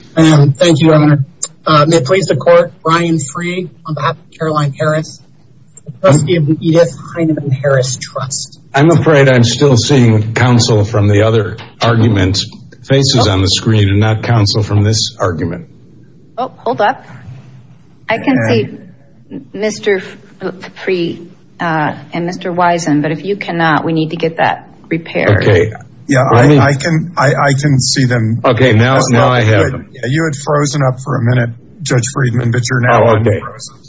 Thank you, Your Honor. May it please the court, Brian Free on behalf of Caroline Harris, the trustee of the Edith Heinemann Harris Trust. I'm afraid I'm still seeing counsel from the other argument faces on the screen and not counsel from this argument. Oh, hold up. I can see Mr. Free and Mr. Wisen, but if you cannot, we need to get that repaired. Yeah, I can see them. You had frozen up for a minute, Judge Friedman, but you're now un-frozen.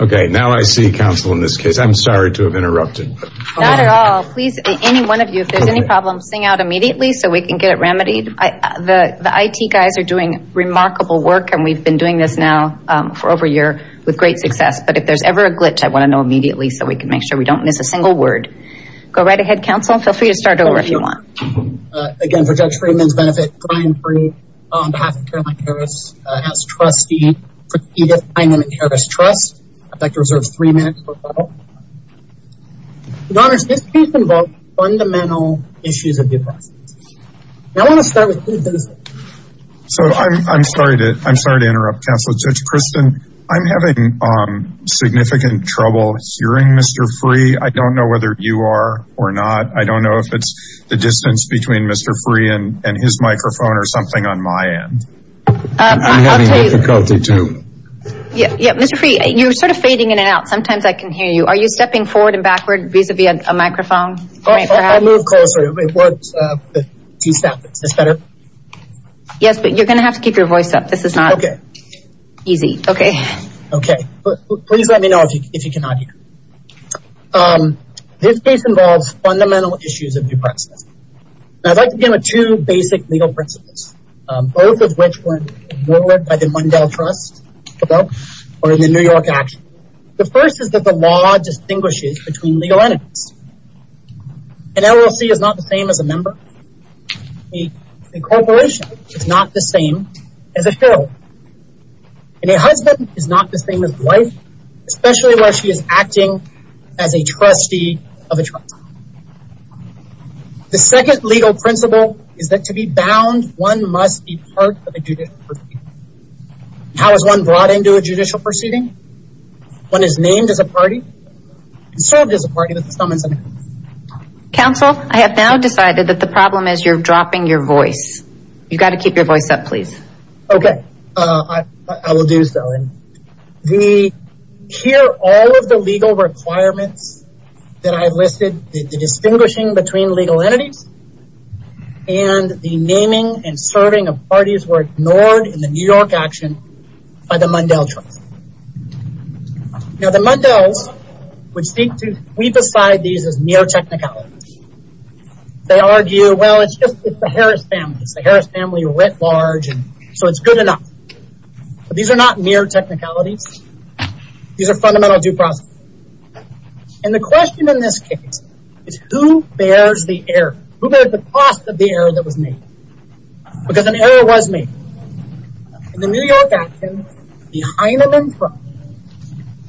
Okay, now I see counsel in this case. I'm sorry to have interrupted. Not at all. Please, any one of you, if there's any problems, sing out immediately so we can get it remedied. The IT guys are doing remarkable work, and we've been doing this now for over a year with great success. But if there's ever a glitch, I want to know immediately so we can make sure we don't miss a single word. Go right ahead, counsel. Feel free to start over if you want. Again, for Judge Friedman's benefit, Brian Free on behalf of Caroline Harris as trustee of the Edith Heinemann Harris Trust. I'd like to reserve three minutes for a moment. Your Honor, this case involves fundamental issues of the oppressed. I want to start with two things. So I'm sorry to interrupt, Counselor Judge Kristen. I'm having significant trouble hearing Mr. Free. I don't know whether you are or not. I don't know if it's the distance between Mr. Free and his microphone or something on my end. I'm having difficulty too. Mr. Free, you're sort of fading in and out. Sometimes I can hear you. Are you stepping forward and backward vis-à-vis a microphone? I'll move closer. Do you see that? Is this better? Yes, but you're going to have to keep your voice up. This is not easy. Okay. Okay. Please let me know if you cannot hear. This case involves fundamental issues of the oppressed. I'd like to begin with two basic legal principles, both of which were worked by the Mundell Trust or the New York Action. The first is that the law distinguishes between legal entities. An LLC is not the same as a member. A corporation is not the same as a federal. And a husband is not the same as a wife, especially when she is acting as a trustee of a trust. The second legal principle is that to be bound, one must be part of a judicial proceeding. How is one brought into a judicial proceeding? One is named as a party and served as a party with the summons and actions. Counsel, I have now decided that the problem is you're dropping your voice. You've got to keep your voice up, please. Okay. I will do so. Here, all of the legal requirements that I've listed, the distinguishing between legal entities, and the naming and serving of parties were ignored in the New York Action by the Mundell Trust. Now, the Mundells would seek to sweep aside these as mere technicalities. They argue, well, it's just the Harris family. It's the Harris family writ large, so it's good enough. But these are not mere technicalities. These are fundamental due process. And the question in this case is who bears the error? Who bears the cost of the error that was made? Because an error was made. In the New York Action, the Heinemann Trust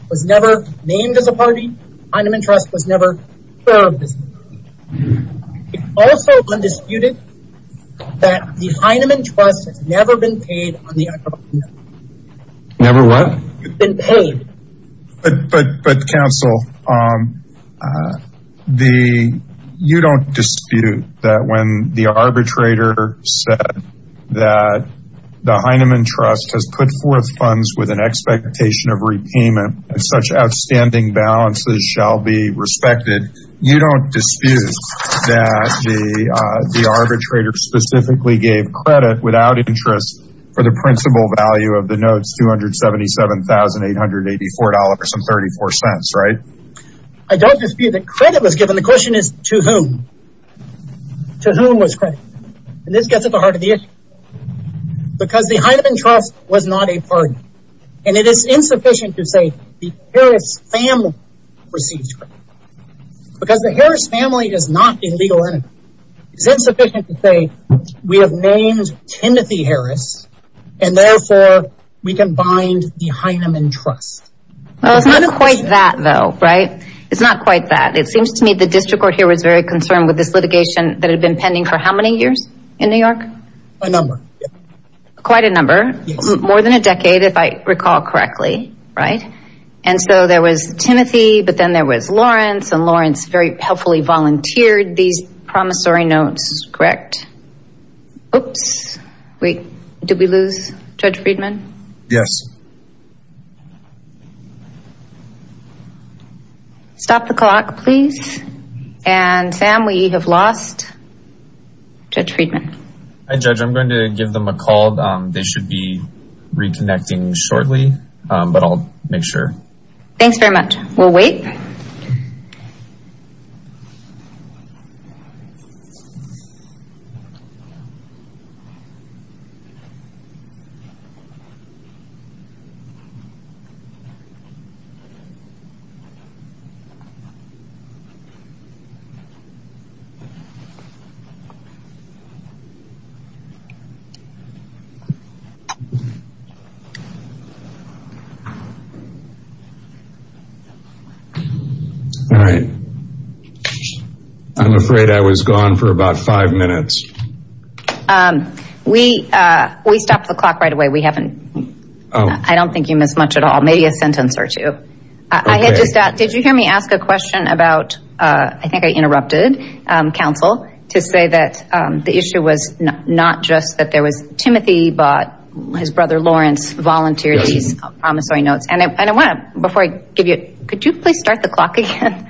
was never named as a party. The Heinemann Trust was never served as a party. It's also undisputed that the Heinemann Trust has never been paid on the acrobatic net. Never what? It's been paid. But, Counsel, you don't dispute that when the arbitrator said that the Heinemann Trust has put forth funds with an expectation of repayment and such outstanding balances shall be respected, you don't dispute that the arbitrator specifically gave credit without interest for the principal value of the notes $277,884.34, right? I don't dispute that credit was given. The question is to whom? To whom was credit? And this gets at the heart of the issue. Because the Heinemann Trust was not a party. And it is insufficient to say the Harris family received credit. Because the Harris family is not a legal entity. It's insufficient to say we have named Kenneth E. Harris and therefore we can bind the Heinemann Trust. Well, it's not quite that though, right? It's not quite that. It seems to me the district court here was very concerned with this litigation that had been pending for how many years in New York? A number. Quite a number. More than a decade if I recall correctly, right? And so there was Timothy, but then there was Lawrence. And Lawrence very helpfully volunteered these promissory notes, correct? Oops. Wait. Did we lose Judge Friedman? Yes. Stop the clock, please. And Sam, we have lost Judge Friedman. Hi, Judge. I'm going to give them a call. They should be reconnecting shortly, but I'll make sure. Thanks very much. We'll wait. All right. I'm afraid I was gone for about five minutes. We stopped the clock right away. We haven't. I don't think you missed much at all, maybe a sentence or two. Did you hear me ask a question about, I think I interrupted counsel, to say that the issue was not just that there was Timothy, but his brother Lawrence volunteered these promissory notes. And I want to, before I give you, could you please start the clock again?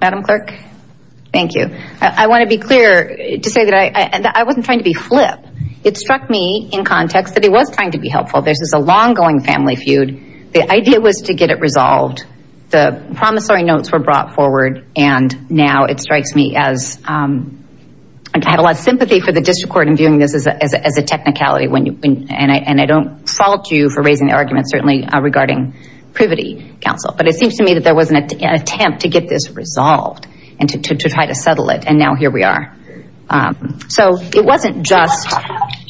Madam Clerk? Thank you. I want to be clear to say that I wasn't trying to be flip. It struck me in context that he was trying to be helpful. This is a long-going family feud. The idea was to get it resolved. The promissory notes were brought forward, and now it strikes me as I have a lot of sympathy for the district court in viewing this as a technicality, and I don't fault you for raising the argument, certainly regarding privity counsel. But it seems to me that there was an attempt to get this resolved and to try to settle it, and now here we are. So it wasn't just,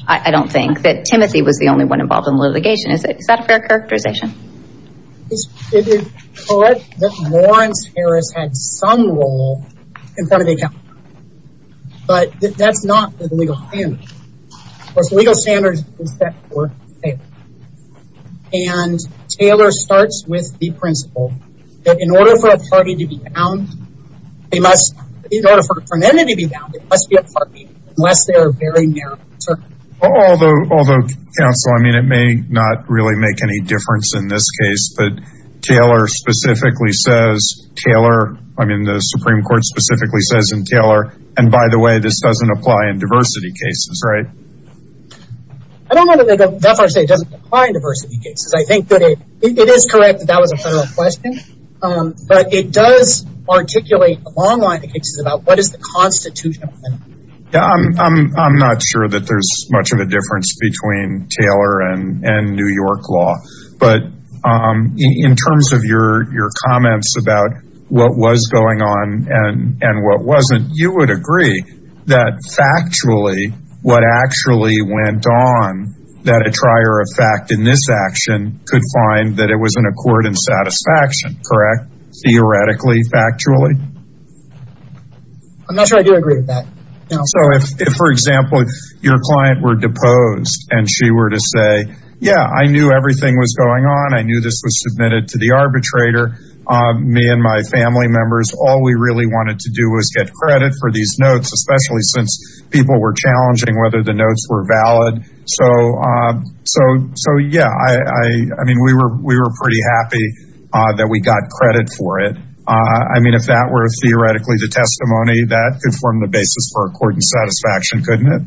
I don't think, that Timothy was the only one involved in the litigation. Is that a fair characterization? It is correct that Lawrence Harris had some role in front of the account. But that's not the legal standard. Of course, the legal standard is set for Taylor. And Taylor starts with the principle that in order for a party to be bound, in order for an entity to be bound, it must be a party, unless they are very narrow. Although, counsel, I mean, it may not really make any difference in this case, but Taylor specifically says, Taylor, I mean, the Supreme Court specifically says in Taylor, and by the way, this doesn't apply in diversity cases, right? I don't know that the FRCA doesn't apply in diversity cases. I think that it is correct that that was a federal question, but it does articulate a long line of cases about what is the constitutional limit. I'm not sure that there's much of a difference between Taylor and New York law. But in terms of your comments about what was going on and what wasn't, you would agree that factually, what actually went on that a trier of fact in this action could find that it was an accord in satisfaction, correct? Theoretically, factually? I'm not sure I do agree with that. So if, for example, your client were deposed and she were to say, yeah, I knew everything was going on. I knew this was submitted to the arbitrator, me and my family members. All we really wanted to do was get credit for these notes, especially since people were challenging whether the notes were valid. So, yeah, I mean, we were pretty happy that we got credit for it. I mean, if that were theoretically the testimony, that could form the basis for accord and satisfaction, couldn't it?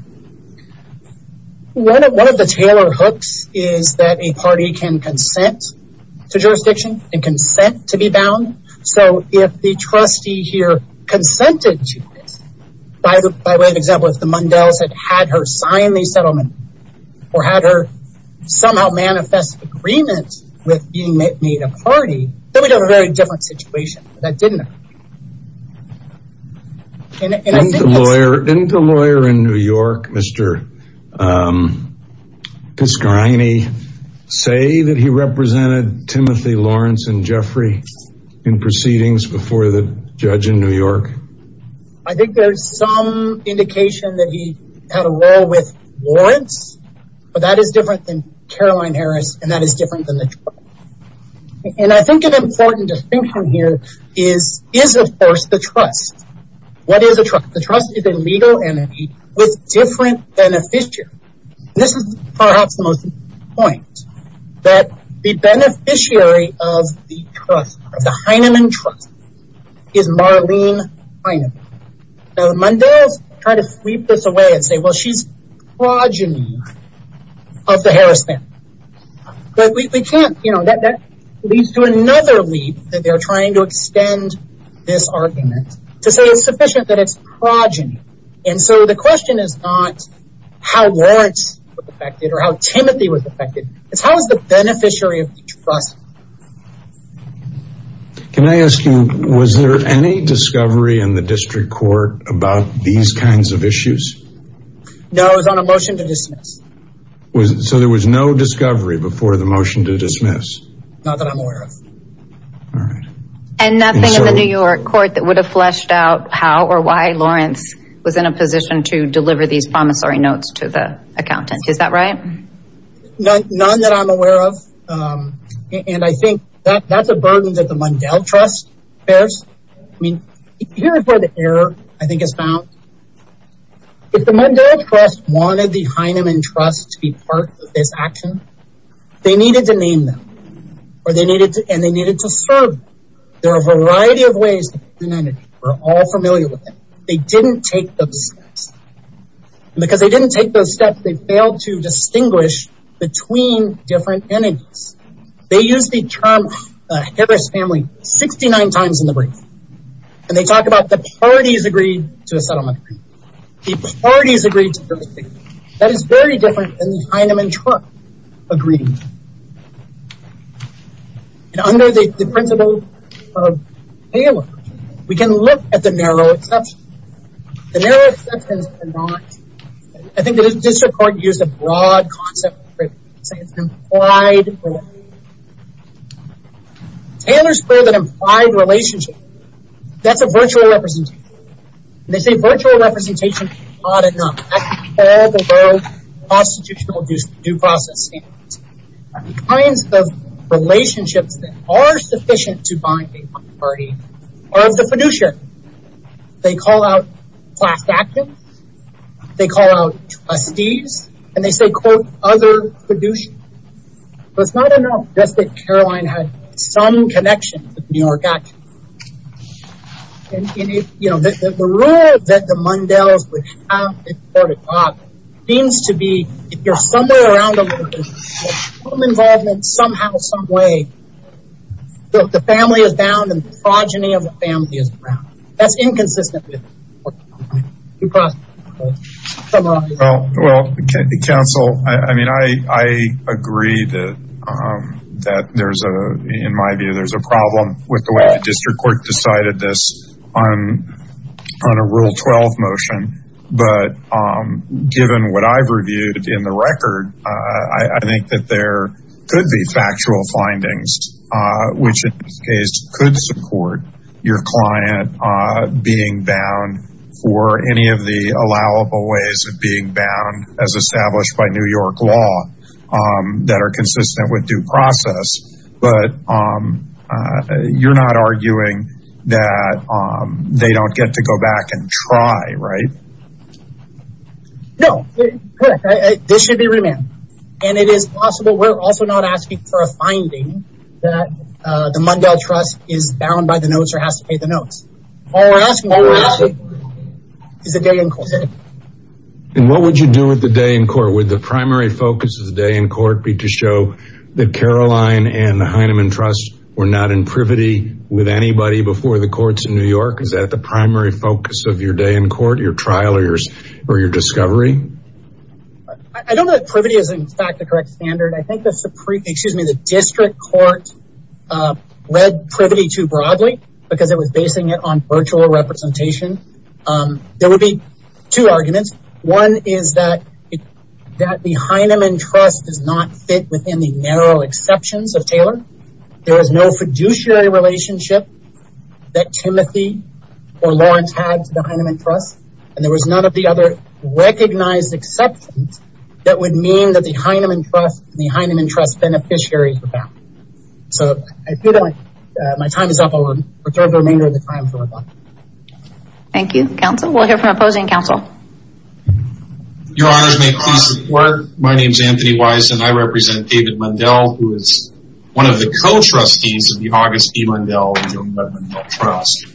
One of the Taylor hooks is that a party can consent to jurisdiction and consent to be bound. So if the trustee here consented to it, by way of example, if the Mundells had had her sign the settlement or had her somehow manifest agreement with being made a party, then we'd have a very different situation. But that didn't happen. Didn't the lawyer in New York, Mr. Piscarini, say that he represented Timothy Lawrence and Jeffrey in proceedings before the judge in New York? I think there's some indication that he had a role with Lawrence, but that is different than Caroline Harris, and that is different than the trial. And I think an important distinction here is, of course, the trust. What is a trust? The trust is a legal entity with different beneficiaries. This is perhaps the most important point, that the beneficiary of the trust, of the Heinemann trust, is Marlene Heinemann. The Mundells kind of sweep this away and say, well, she's progeny of the Harris family. But we can't, you know, that leads to another leap that they're trying to extend this argument to say it's sufficient that it's progeny. And so the question is not how Lawrence was affected or how Timothy was affected. It's how is the beneficiary of the trust. Can I ask you, was there any discovery in the district court No, it was on a motion to dismiss. So there was no discovery before the motion to dismiss. Not that I'm aware of. All right. And nothing in the New York court that would have fleshed out how or why Lawrence was in a position to deliver these promissory notes to the accountant. Is that right? None that I'm aware of. And I think that's a burden that the Mundell trust bears. I mean, here's where the error, I think, is found. If the Mundell trust wanted the Heinemann trust to be part of this action, they needed to name them. And they needed to serve them. There are a variety of ways that we're all familiar with it. They didn't take those steps. And because they didn't take those steps, they failed to distinguish between different entities. They used the term Harris family 69 times in the brief. And they talk about the parties agreeing to a settlement agreement. The parties agreed to a settlement agreement. That is very different than the Heinemann trust agreeing to it. And under the principle of Taylor, we can look at the narrow exceptions. The narrow exceptions are not, I think the district court used a broad concept, say it's an implied relationship. Taylor's bill that implied relationship, that's a virtual representation. And they say virtual representation is not enough. That's all below constitutional due process standards. The kinds of relationships that are sufficient to bind a party are of the fiduciary. They call out class actors. They call out trustees. And they say, quote, other fiduciary. But it's not enough just that Caroline had some connection to the New York action. And, you know, the rule that the Mundells would have in court of God seems to be, if you're somewhere around a little bit, some involvement somehow, some way, the family is bound and the progeny of the family is bound. That's inconsistent with due process standards. Well, counsel, I mean, I agree that there's a, in my view, there's a problem with the way the district court decided this on a rule 12 motion. But given what I've reviewed in the record, I think that there could be factual findings, which in this case could support your client being bound for any of the allowable ways of being bound as established by New York law that are consistent with due process. But you're not arguing that they don't get to go back and try, right? No, this should be remand. And it is possible. We're also not asking for a finding that the Mundell trust is bound by the notes or has to pay the notes. All we're asking for is a day in court. And what would you do with the day in court with the primary focus of the day in court? Be to show that Caroline and the Heinemann trust were not in privity with anybody before the courts in New York. Is that the primary focus of your day in court, your trial or yours or your discovery? I don't know that privity is, in fact, the correct standard. I think the Supreme, excuse me, the district court read privity too broadly because it was basing it on virtual representation. There would be two arguments. One is that that the Heinemann trust does not fit within the narrow exceptions of Taylor. There is no fiduciary relationship that Timothy or Lawrence had to the Heinemann trust. And there was none of the other recognized exceptions that would mean that the Heinemann trust, the Heinemann trust beneficiary. So I feel like my time is up. I'll reserve the remainder of the time. Thank you, counsel. We'll hear from opposing counsel. Your Honor, may I please report? My name is Anthony Weiss and I represent David Mundell, who is one of the co-trustees of the August E. Mundell Trust.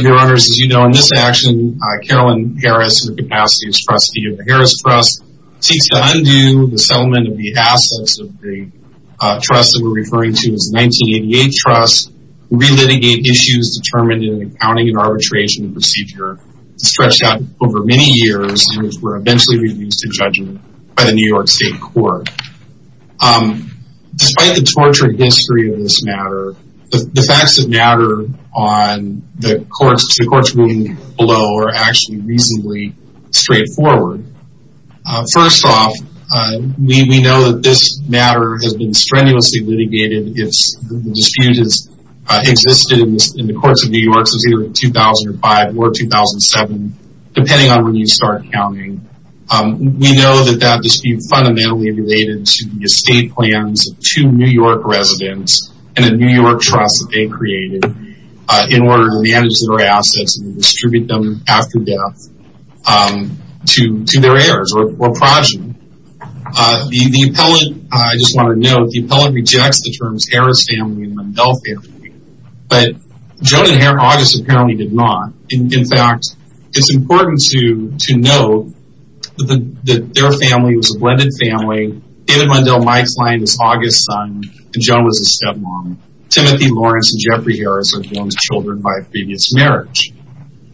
Your Honor, as you know, in this action, Carolyn Harris, who has the capacity as trustee of the Harris Trust, seeks to undo the settlement of the assets of the trust that we're referring to as 1988 Trust, relitigate issues determined in the accounting and arbitration procedure, stretched out over many years and were eventually reduced to judgment by the New York State Court. Despite the tortured history of this matter, the facts that matter on the courts, the courts moving below are actually reasonably straightforward. First off, we know that this matter has been strenuously litigated. The dispute has existed in the courts of New York since either 2005 or 2007, depending on when you start counting. We know that that dispute fundamentally related to the estate plans of two New York residents and a New York trust that they created in order to manage their assets and distribute them after death to their heirs or progeny. The appellate, I just want to note, the appellate rejects the terms Harris family and Mundell family, but Joan and August apparently did not. In fact, it's important to know that their family was a blended family. David Mundell, my client, is August's son and Joan was his stepmom. Timothy Lawrence and Jeffrey Harris are Joan's children by previous marriage.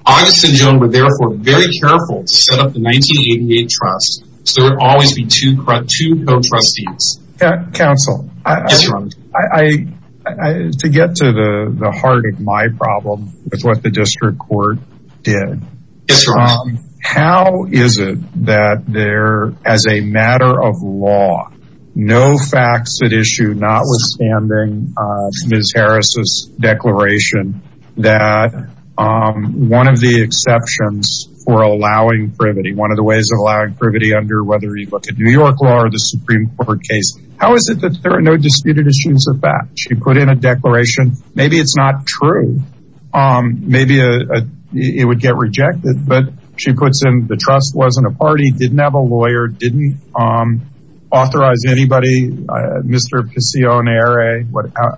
August and Joan were therefore very careful to set up the 1988 Trust so there would always be two co-trustees. Counsel, to get to the heart of my problem with what the district court did, how is it that there, as a matter of law, no facts at issue, notwithstanding Ms. Harris's declaration, that one of the exceptions for allowing privity, one of the ways of allowing privity under whether you look at New York law or the Supreme Court case, how is it that there are no disputed issues of that? She put in a declaration, maybe it's not true, maybe it would get rejected, but she puts in the trust wasn't a party, didn't have a lawyer, didn't authorize anybody, Mr. Pasionere,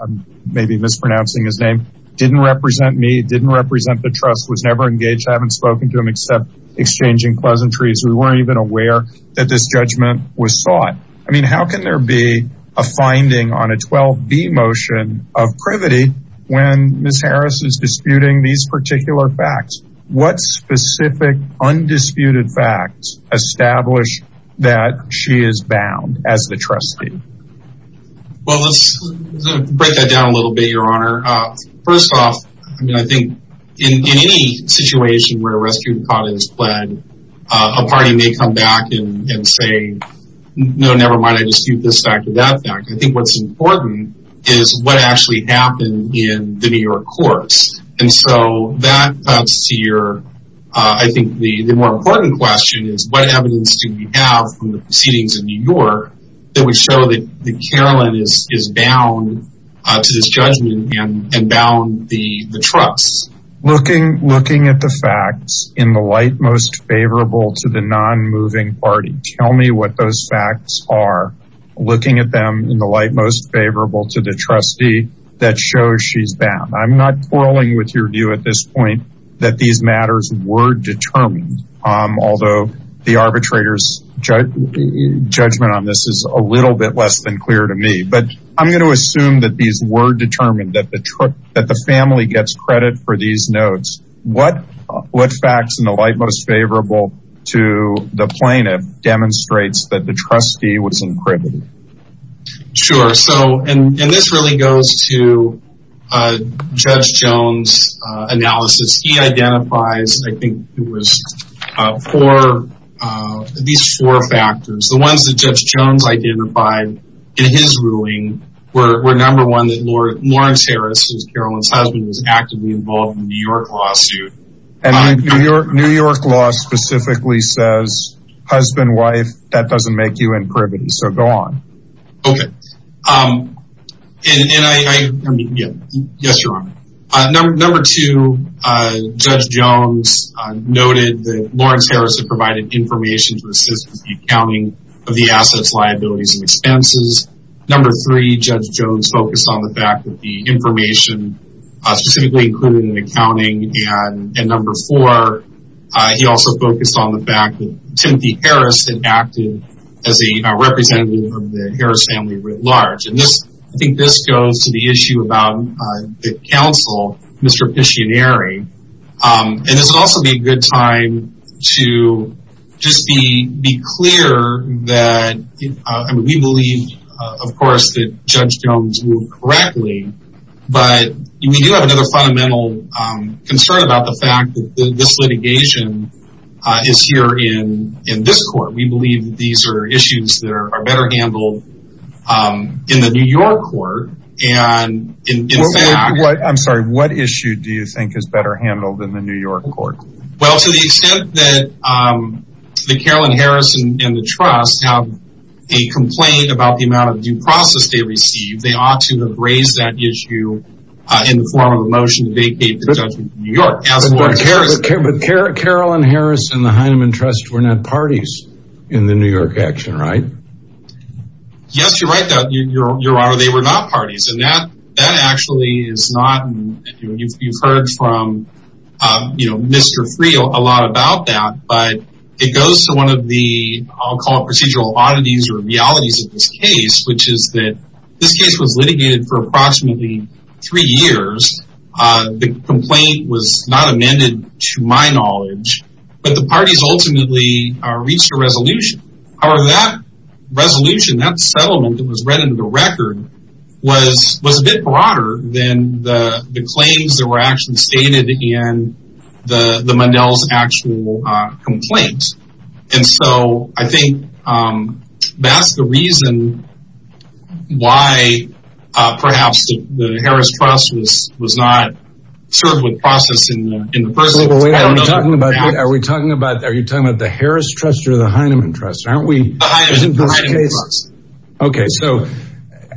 I'm maybe mispronouncing his name, didn't represent me, didn't represent the trust, was never engaged, I haven't spoken to him except exchanging pleasantries. We weren't even aware that this judgment was sought. I mean, how can there be a finding on a 12b motion of privity when Ms. Harris is disputing these particular facts? What specific undisputed facts establish that she is bound as the trustee? Well, let's break that down a little bit, Your Honor. First off, I mean, I think in any situation where a rescue plan is fled, a party may come back and say, no, never mind, I dispute this fact or that fact. I think what's important is what actually happened in the New York courts. And so that cuts to your, I think the more important question is, what evidence do we have from the proceedings in New York that would show that Carolyn is bound to this judgment and bound the trust? Looking at the facts in the light most favorable to the non-moving party. Tell me what those facts are. Looking at them in the light most favorable to the trustee that shows she's bound. I'm not quarreling with your view at this point that these matters were determined, although the arbitrator's judgment on this is a little bit less than clear to me. But I'm going to assume that these were determined, that the family gets credit for these notes. What facts in the light most favorable to the plaintiff demonstrates that the trustee was incriminated? Sure. So, and this really goes to Judge Jones' analysis. He identifies, I think it was four, at least four factors. The ones that Judge Jones identified in his ruling were number one, that Lawrence Harris, who's Carolyn's husband, was actively involved in the New York lawsuit. And New York law specifically says, husband, wife, that doesn't make you incriminated. So go on. Okay. And I, yes, you're on. Number two, Judge Jones noted that Lawrence Harris had provided information to assist with the accounting of the assets, liabilities, and expenses. Number three, Judge Jones focused on the fact that the information specifically included in accounting. And number four, he also focused on the fact that Timothy Harris had acted as a representative of the Harris family writ large. And this, I think this goes to the issue about the counsel, Mr. Piccioneri. And this would also be a good time to just be clear that we believe, of course, that Judge Jones ruled correctly. But we do have another fundamental concern about the fact that this litigation is here in this court. We believe that these are issues that are better handled in the New York court. And in fact- I'm sorry. What issue do you think is better handled in the New York court? Well, to the extent that the Carolyn Harris and the trust have a complaint about the amount of due process they received, they ought to have raised that issue in the form of a motion to vacate the judgment in New York. But Carolyn Harris and the Hyneman Trust were not parties in the New York action, right? Yes, you're right, Your Honor. They were not parties. And that actually is not- You've heard from, you know, Mr. Freel a lot about that. But it goes to one of the, I'll call it procedural oddities or realities of this case, which is that this case was litigated for approximately three years. The complaint was not amended, to my knowledge. But the parties ultimately reached a resolution. However, that resolution, that settlement that was read into the record, was a bit broader than the claims that were actually stated in the Mundell's actual complaint. And so I think that's the reason why perhaps the Harris Trust was not served with processing in the first place. Are we talking about the Harris Trust or the Hyneman Trust? The Hyneman Trust. Okay, so,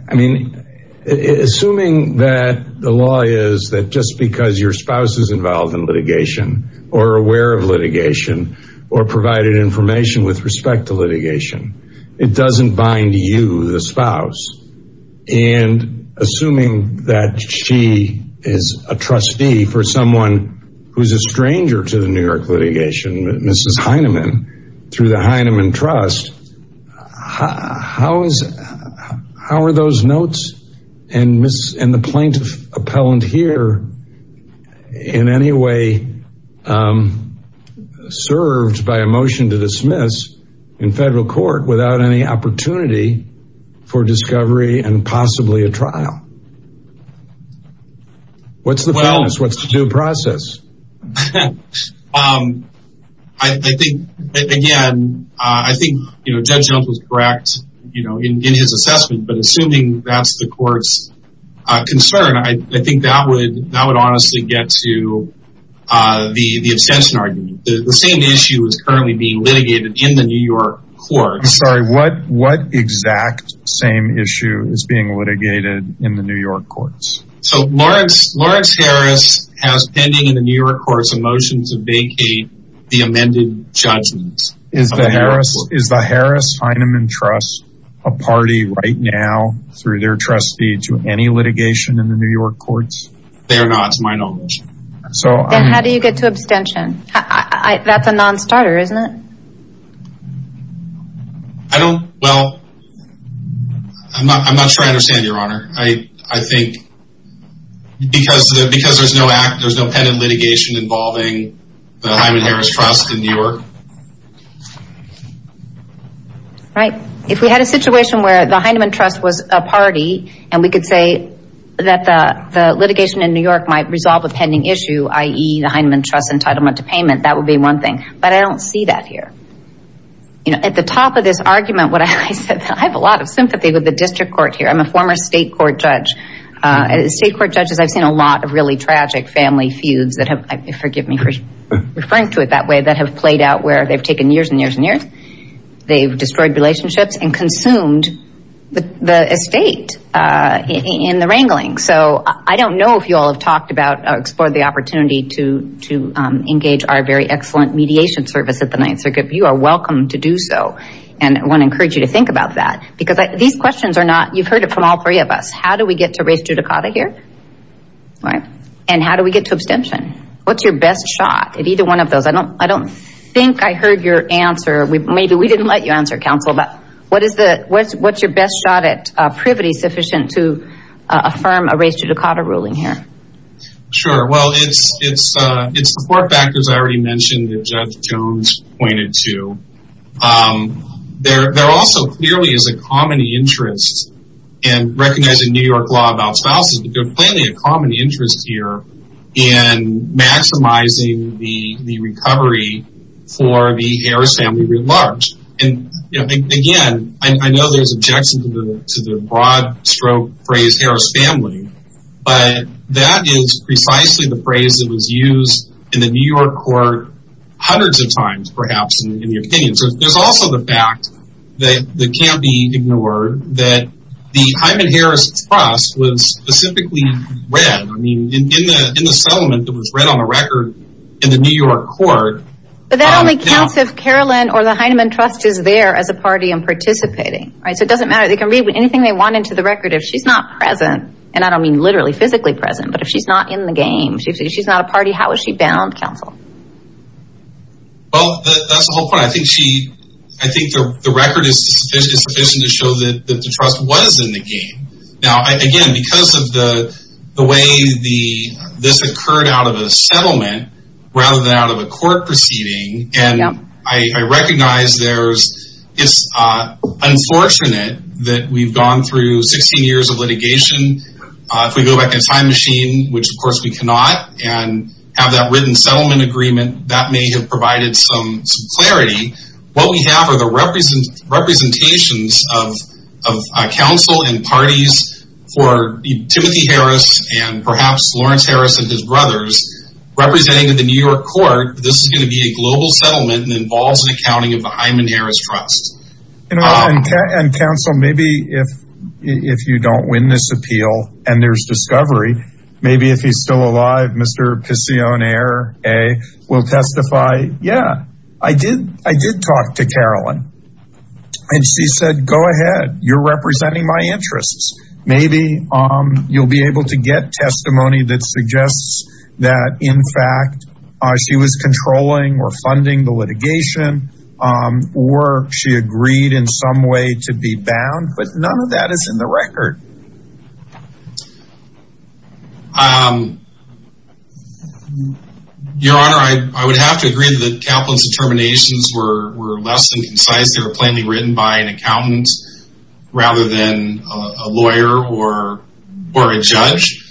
I mean, assuming that the law is that just because your spouse is involved in litigation or aware of litigation or provided information with respect to litigation, it doesn't bind you, the spouse. And assuming that she is a trustee for someone who's a stranger to the New York litigation, Mrs. Hyneman, through the Hyneman Trust, how are those notes and the plaintiff appellant here in any way served by a motion to dismiss in federal court without any opportunity for discovery and possibly a trial? What's the process? I think, again, I think Judge Jones was correct in his assessment, but assuming that's the court's concern, I think that would honestly get to the abstention argument. The same issue is currently being litigated in the New York courts. I'm sorry, what exact same issue is being litigated in the New York courts? So Lawrence Harris has pending in the New York courts a motion to vacate the amended judgments. Is the Harris Hyneman Trust a party right now through their trustee to any litigation in the New York courts? They're not, it's my knowledge. Then how do you get to abstention? That's a non-starter, isn't it? I don't, well, I'm not sure I understand, Your Honor. I think because there's no pending litigation involving the Hyneman Harris Trust in New York. Right. If we had a situation where the Hyneman Trust was a party, and we could say that the litigation in New York might resolve a pending issue, i.e., the Hyneman Trust entitlement to payment, that would be one thing. But I don't see that here. You know, at the top of this argument, what I said, I have a lot of sympathy with the district court here. I'm a former state court judge. State court judges, I've seen a lot of really tragic family feuds that have, forgive me for referring to it that way, that have played out where they've taken years and years and years. They've destroyed relationships and consumed the estate in the wrangling. So I don't know if you all have talked about or explored the opportunity to engage our very excellent mediation service at the Ninth Circuit. You are welcome to do so. And I want to encourage you to think about that. Because these questions are not, you've heard it from all three of us. How do we get to res judicata here? Right. And how do we get to abstention? What's your best shot at either one of those? I don't think I heard your answer. Maybe we didn't let you answer, counsel. But what's your best shot at privity sufficient to affirm a res judicata ruling here? Sure. Well, it's the four factors I already mentioned that Judge Jones pointed to. There also clearly is a common interest, and recognizing New York law about spouses, there's clearly a common interest here in maximizing the recovery for the heir's family writ large. And again, I know there's objections to the broad stroke phrase heir's family. But that is precisely the phrase that was used in the New York court hundreds of times perhaps in the opinion. So there's also the fact that can't be ignored that the Hyman-Harris trust was specifically read. I mean, in the settlement, it was read on the record in the New York court. But that only counts if Carolyn or the Hyman trust is there as a party and participating. So it doesn't matter. They can read anything they want into the record. If she's not present, and I don't mean literally physically present, but if she's not in the game, if she's not a party, how is she bound, counsel? Well, that's the whole point. I think the record is sufficient to show that the trust was in the game. Now, again, because of the way this occurred out of a settlement rather than out of a court proceeding, and I recognize it's unfortunate that we've gone through 16 years of litigation. If we go back in time machine, which, of course, we cannot, and have that written settlement agreement, that may have provided some clarity. What we have are the representations of counsel and parties for Timothy Harris and perhaps Lawrence Harris and his brothers representing the New York court. This is going to be a global settlement and involves an accounting of the Hyman-Harris trust. And counsel, maybe if you don't win this appeal and there's discovery, maybe if he's still alive, Mr. Picioner will testify, yeah, I did talk to Carolyn. And she said, go ahead. You're representing my interests. Maybe you'll be able to get testimony that suggests that, in fact, she was controlling or funding the litigation or she agreed in some way to be bound, but none of that is in the record. Your Honor, I would have to agree that Kaplan's determinations were less than concise. They were plainly written by an accountant rather than a lawyer or a judge.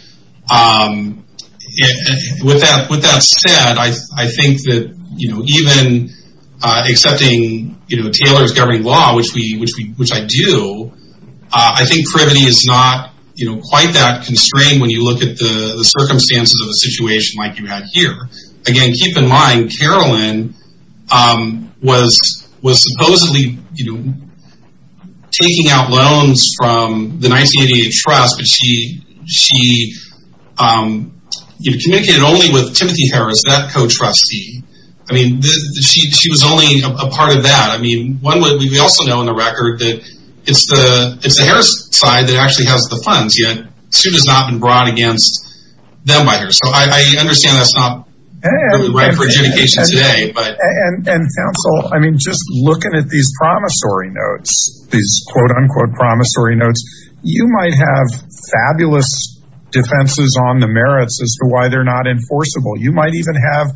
With that said, I think that even accepting Taylor's governing law, which I do, I think privity is not quite that constrained when you look at the circumstances of a situation like you had here. Again, keep in mind, Carolyn was supposedly taking out loans from the 1988 trust, but she communicated only with Timothy Harris, that co-trustee. I mean, she was only a part of that. We also know in the record that it's the Harris side that actually has the funds, yet she has not been brought against them either. So I understand that's not really right for adjudication today. And counsel, I mean, just looking at these promissory notes, these quote-unquote promissory notes, you might have fabulous defenses on the merits as to why they're not enforceable. You might even have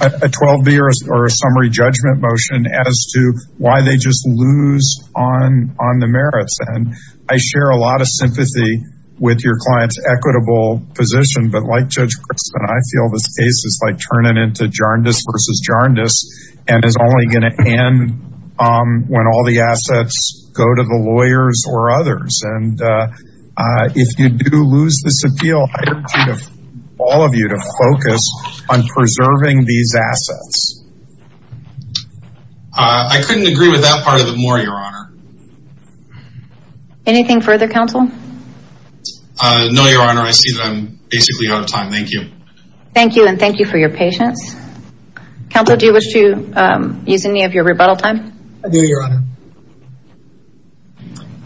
a 12-B or a summary judgment motion as to why they just lose on the merits. And I share a lot of sympathy with your client's equitable position, but like Judge Cristin, I feel this case is like turning into JARNDIS versus JARNDIS and is only going to end when all the assets go to the lawyers or others. And if you do lose this appeal, I urge all of you to focus on preserving these assets. I couldn't agree with that part of the moor, Your Honor. Anything further, counsel? No, Your Honor. I see that I'm basically out of time. Thank you. Thank you, and thank you for your patience. Counsel, do you wish to use any of your rebuttal time? I do, Your Honor.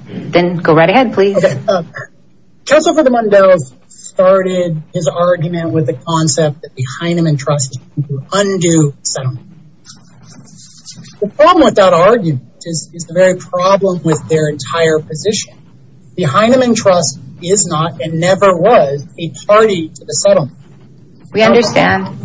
Then go right ahead, please. Counsel for the Mundells started his argument with the concept that behind them in trust is an undue settlement. The problem with that argument is the very problem with their entire position. Behind them in trust is not and never was a party to the settlement. We understand.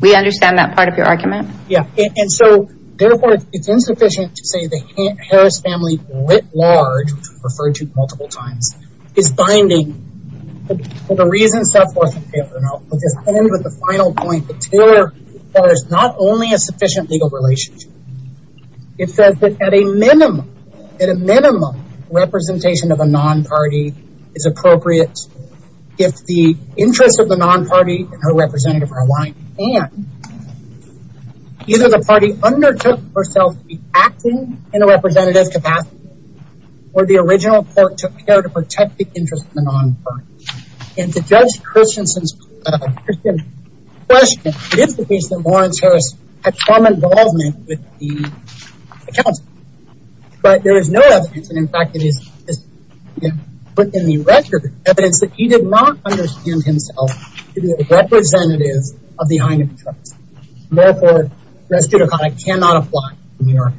We understand that part of your argument. Yeah, and so therefore it's insufficient to say the Harris family writ large, referred to multiple times, is binding for the reasons set forth in Taylor. And I'll just end with the final point. The Taylor file is not only a sufficient legal relationship. It says that at a minimum, at a minimum, representation of a non-party is appropriate. If the interest of the non-party and her representative are aligned, and either the party undertook herself to be acting in a representative capacity, or the original court took care to protect the interest of the non-party. And to judge Christensen's question, it is the case that Lawrence Harris had some involvement with the counsel. But there is no evidence, and in fact it is put in the record, evidence that he did not understand himself to be a representative of the hind of the trust. Therefore, res judicata cannot apply in New York.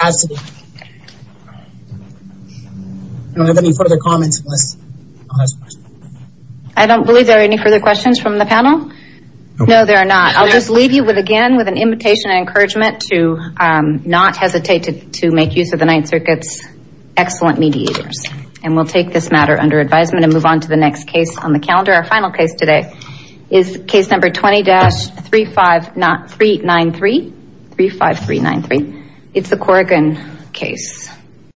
Absolutely. I don't have any further comments unless I'm asked a question. I don't believe there are any further questions from the panel. No, there are not. I'll just leave you again with an invitation and encouragement to not hesitate to make use of the Ninth Circuit's excellent mediators. And we'll take this matter under advisement and move on to the next case on the calendar. Our final case today is case number 20-35393. 35393. It's the Corrigan case.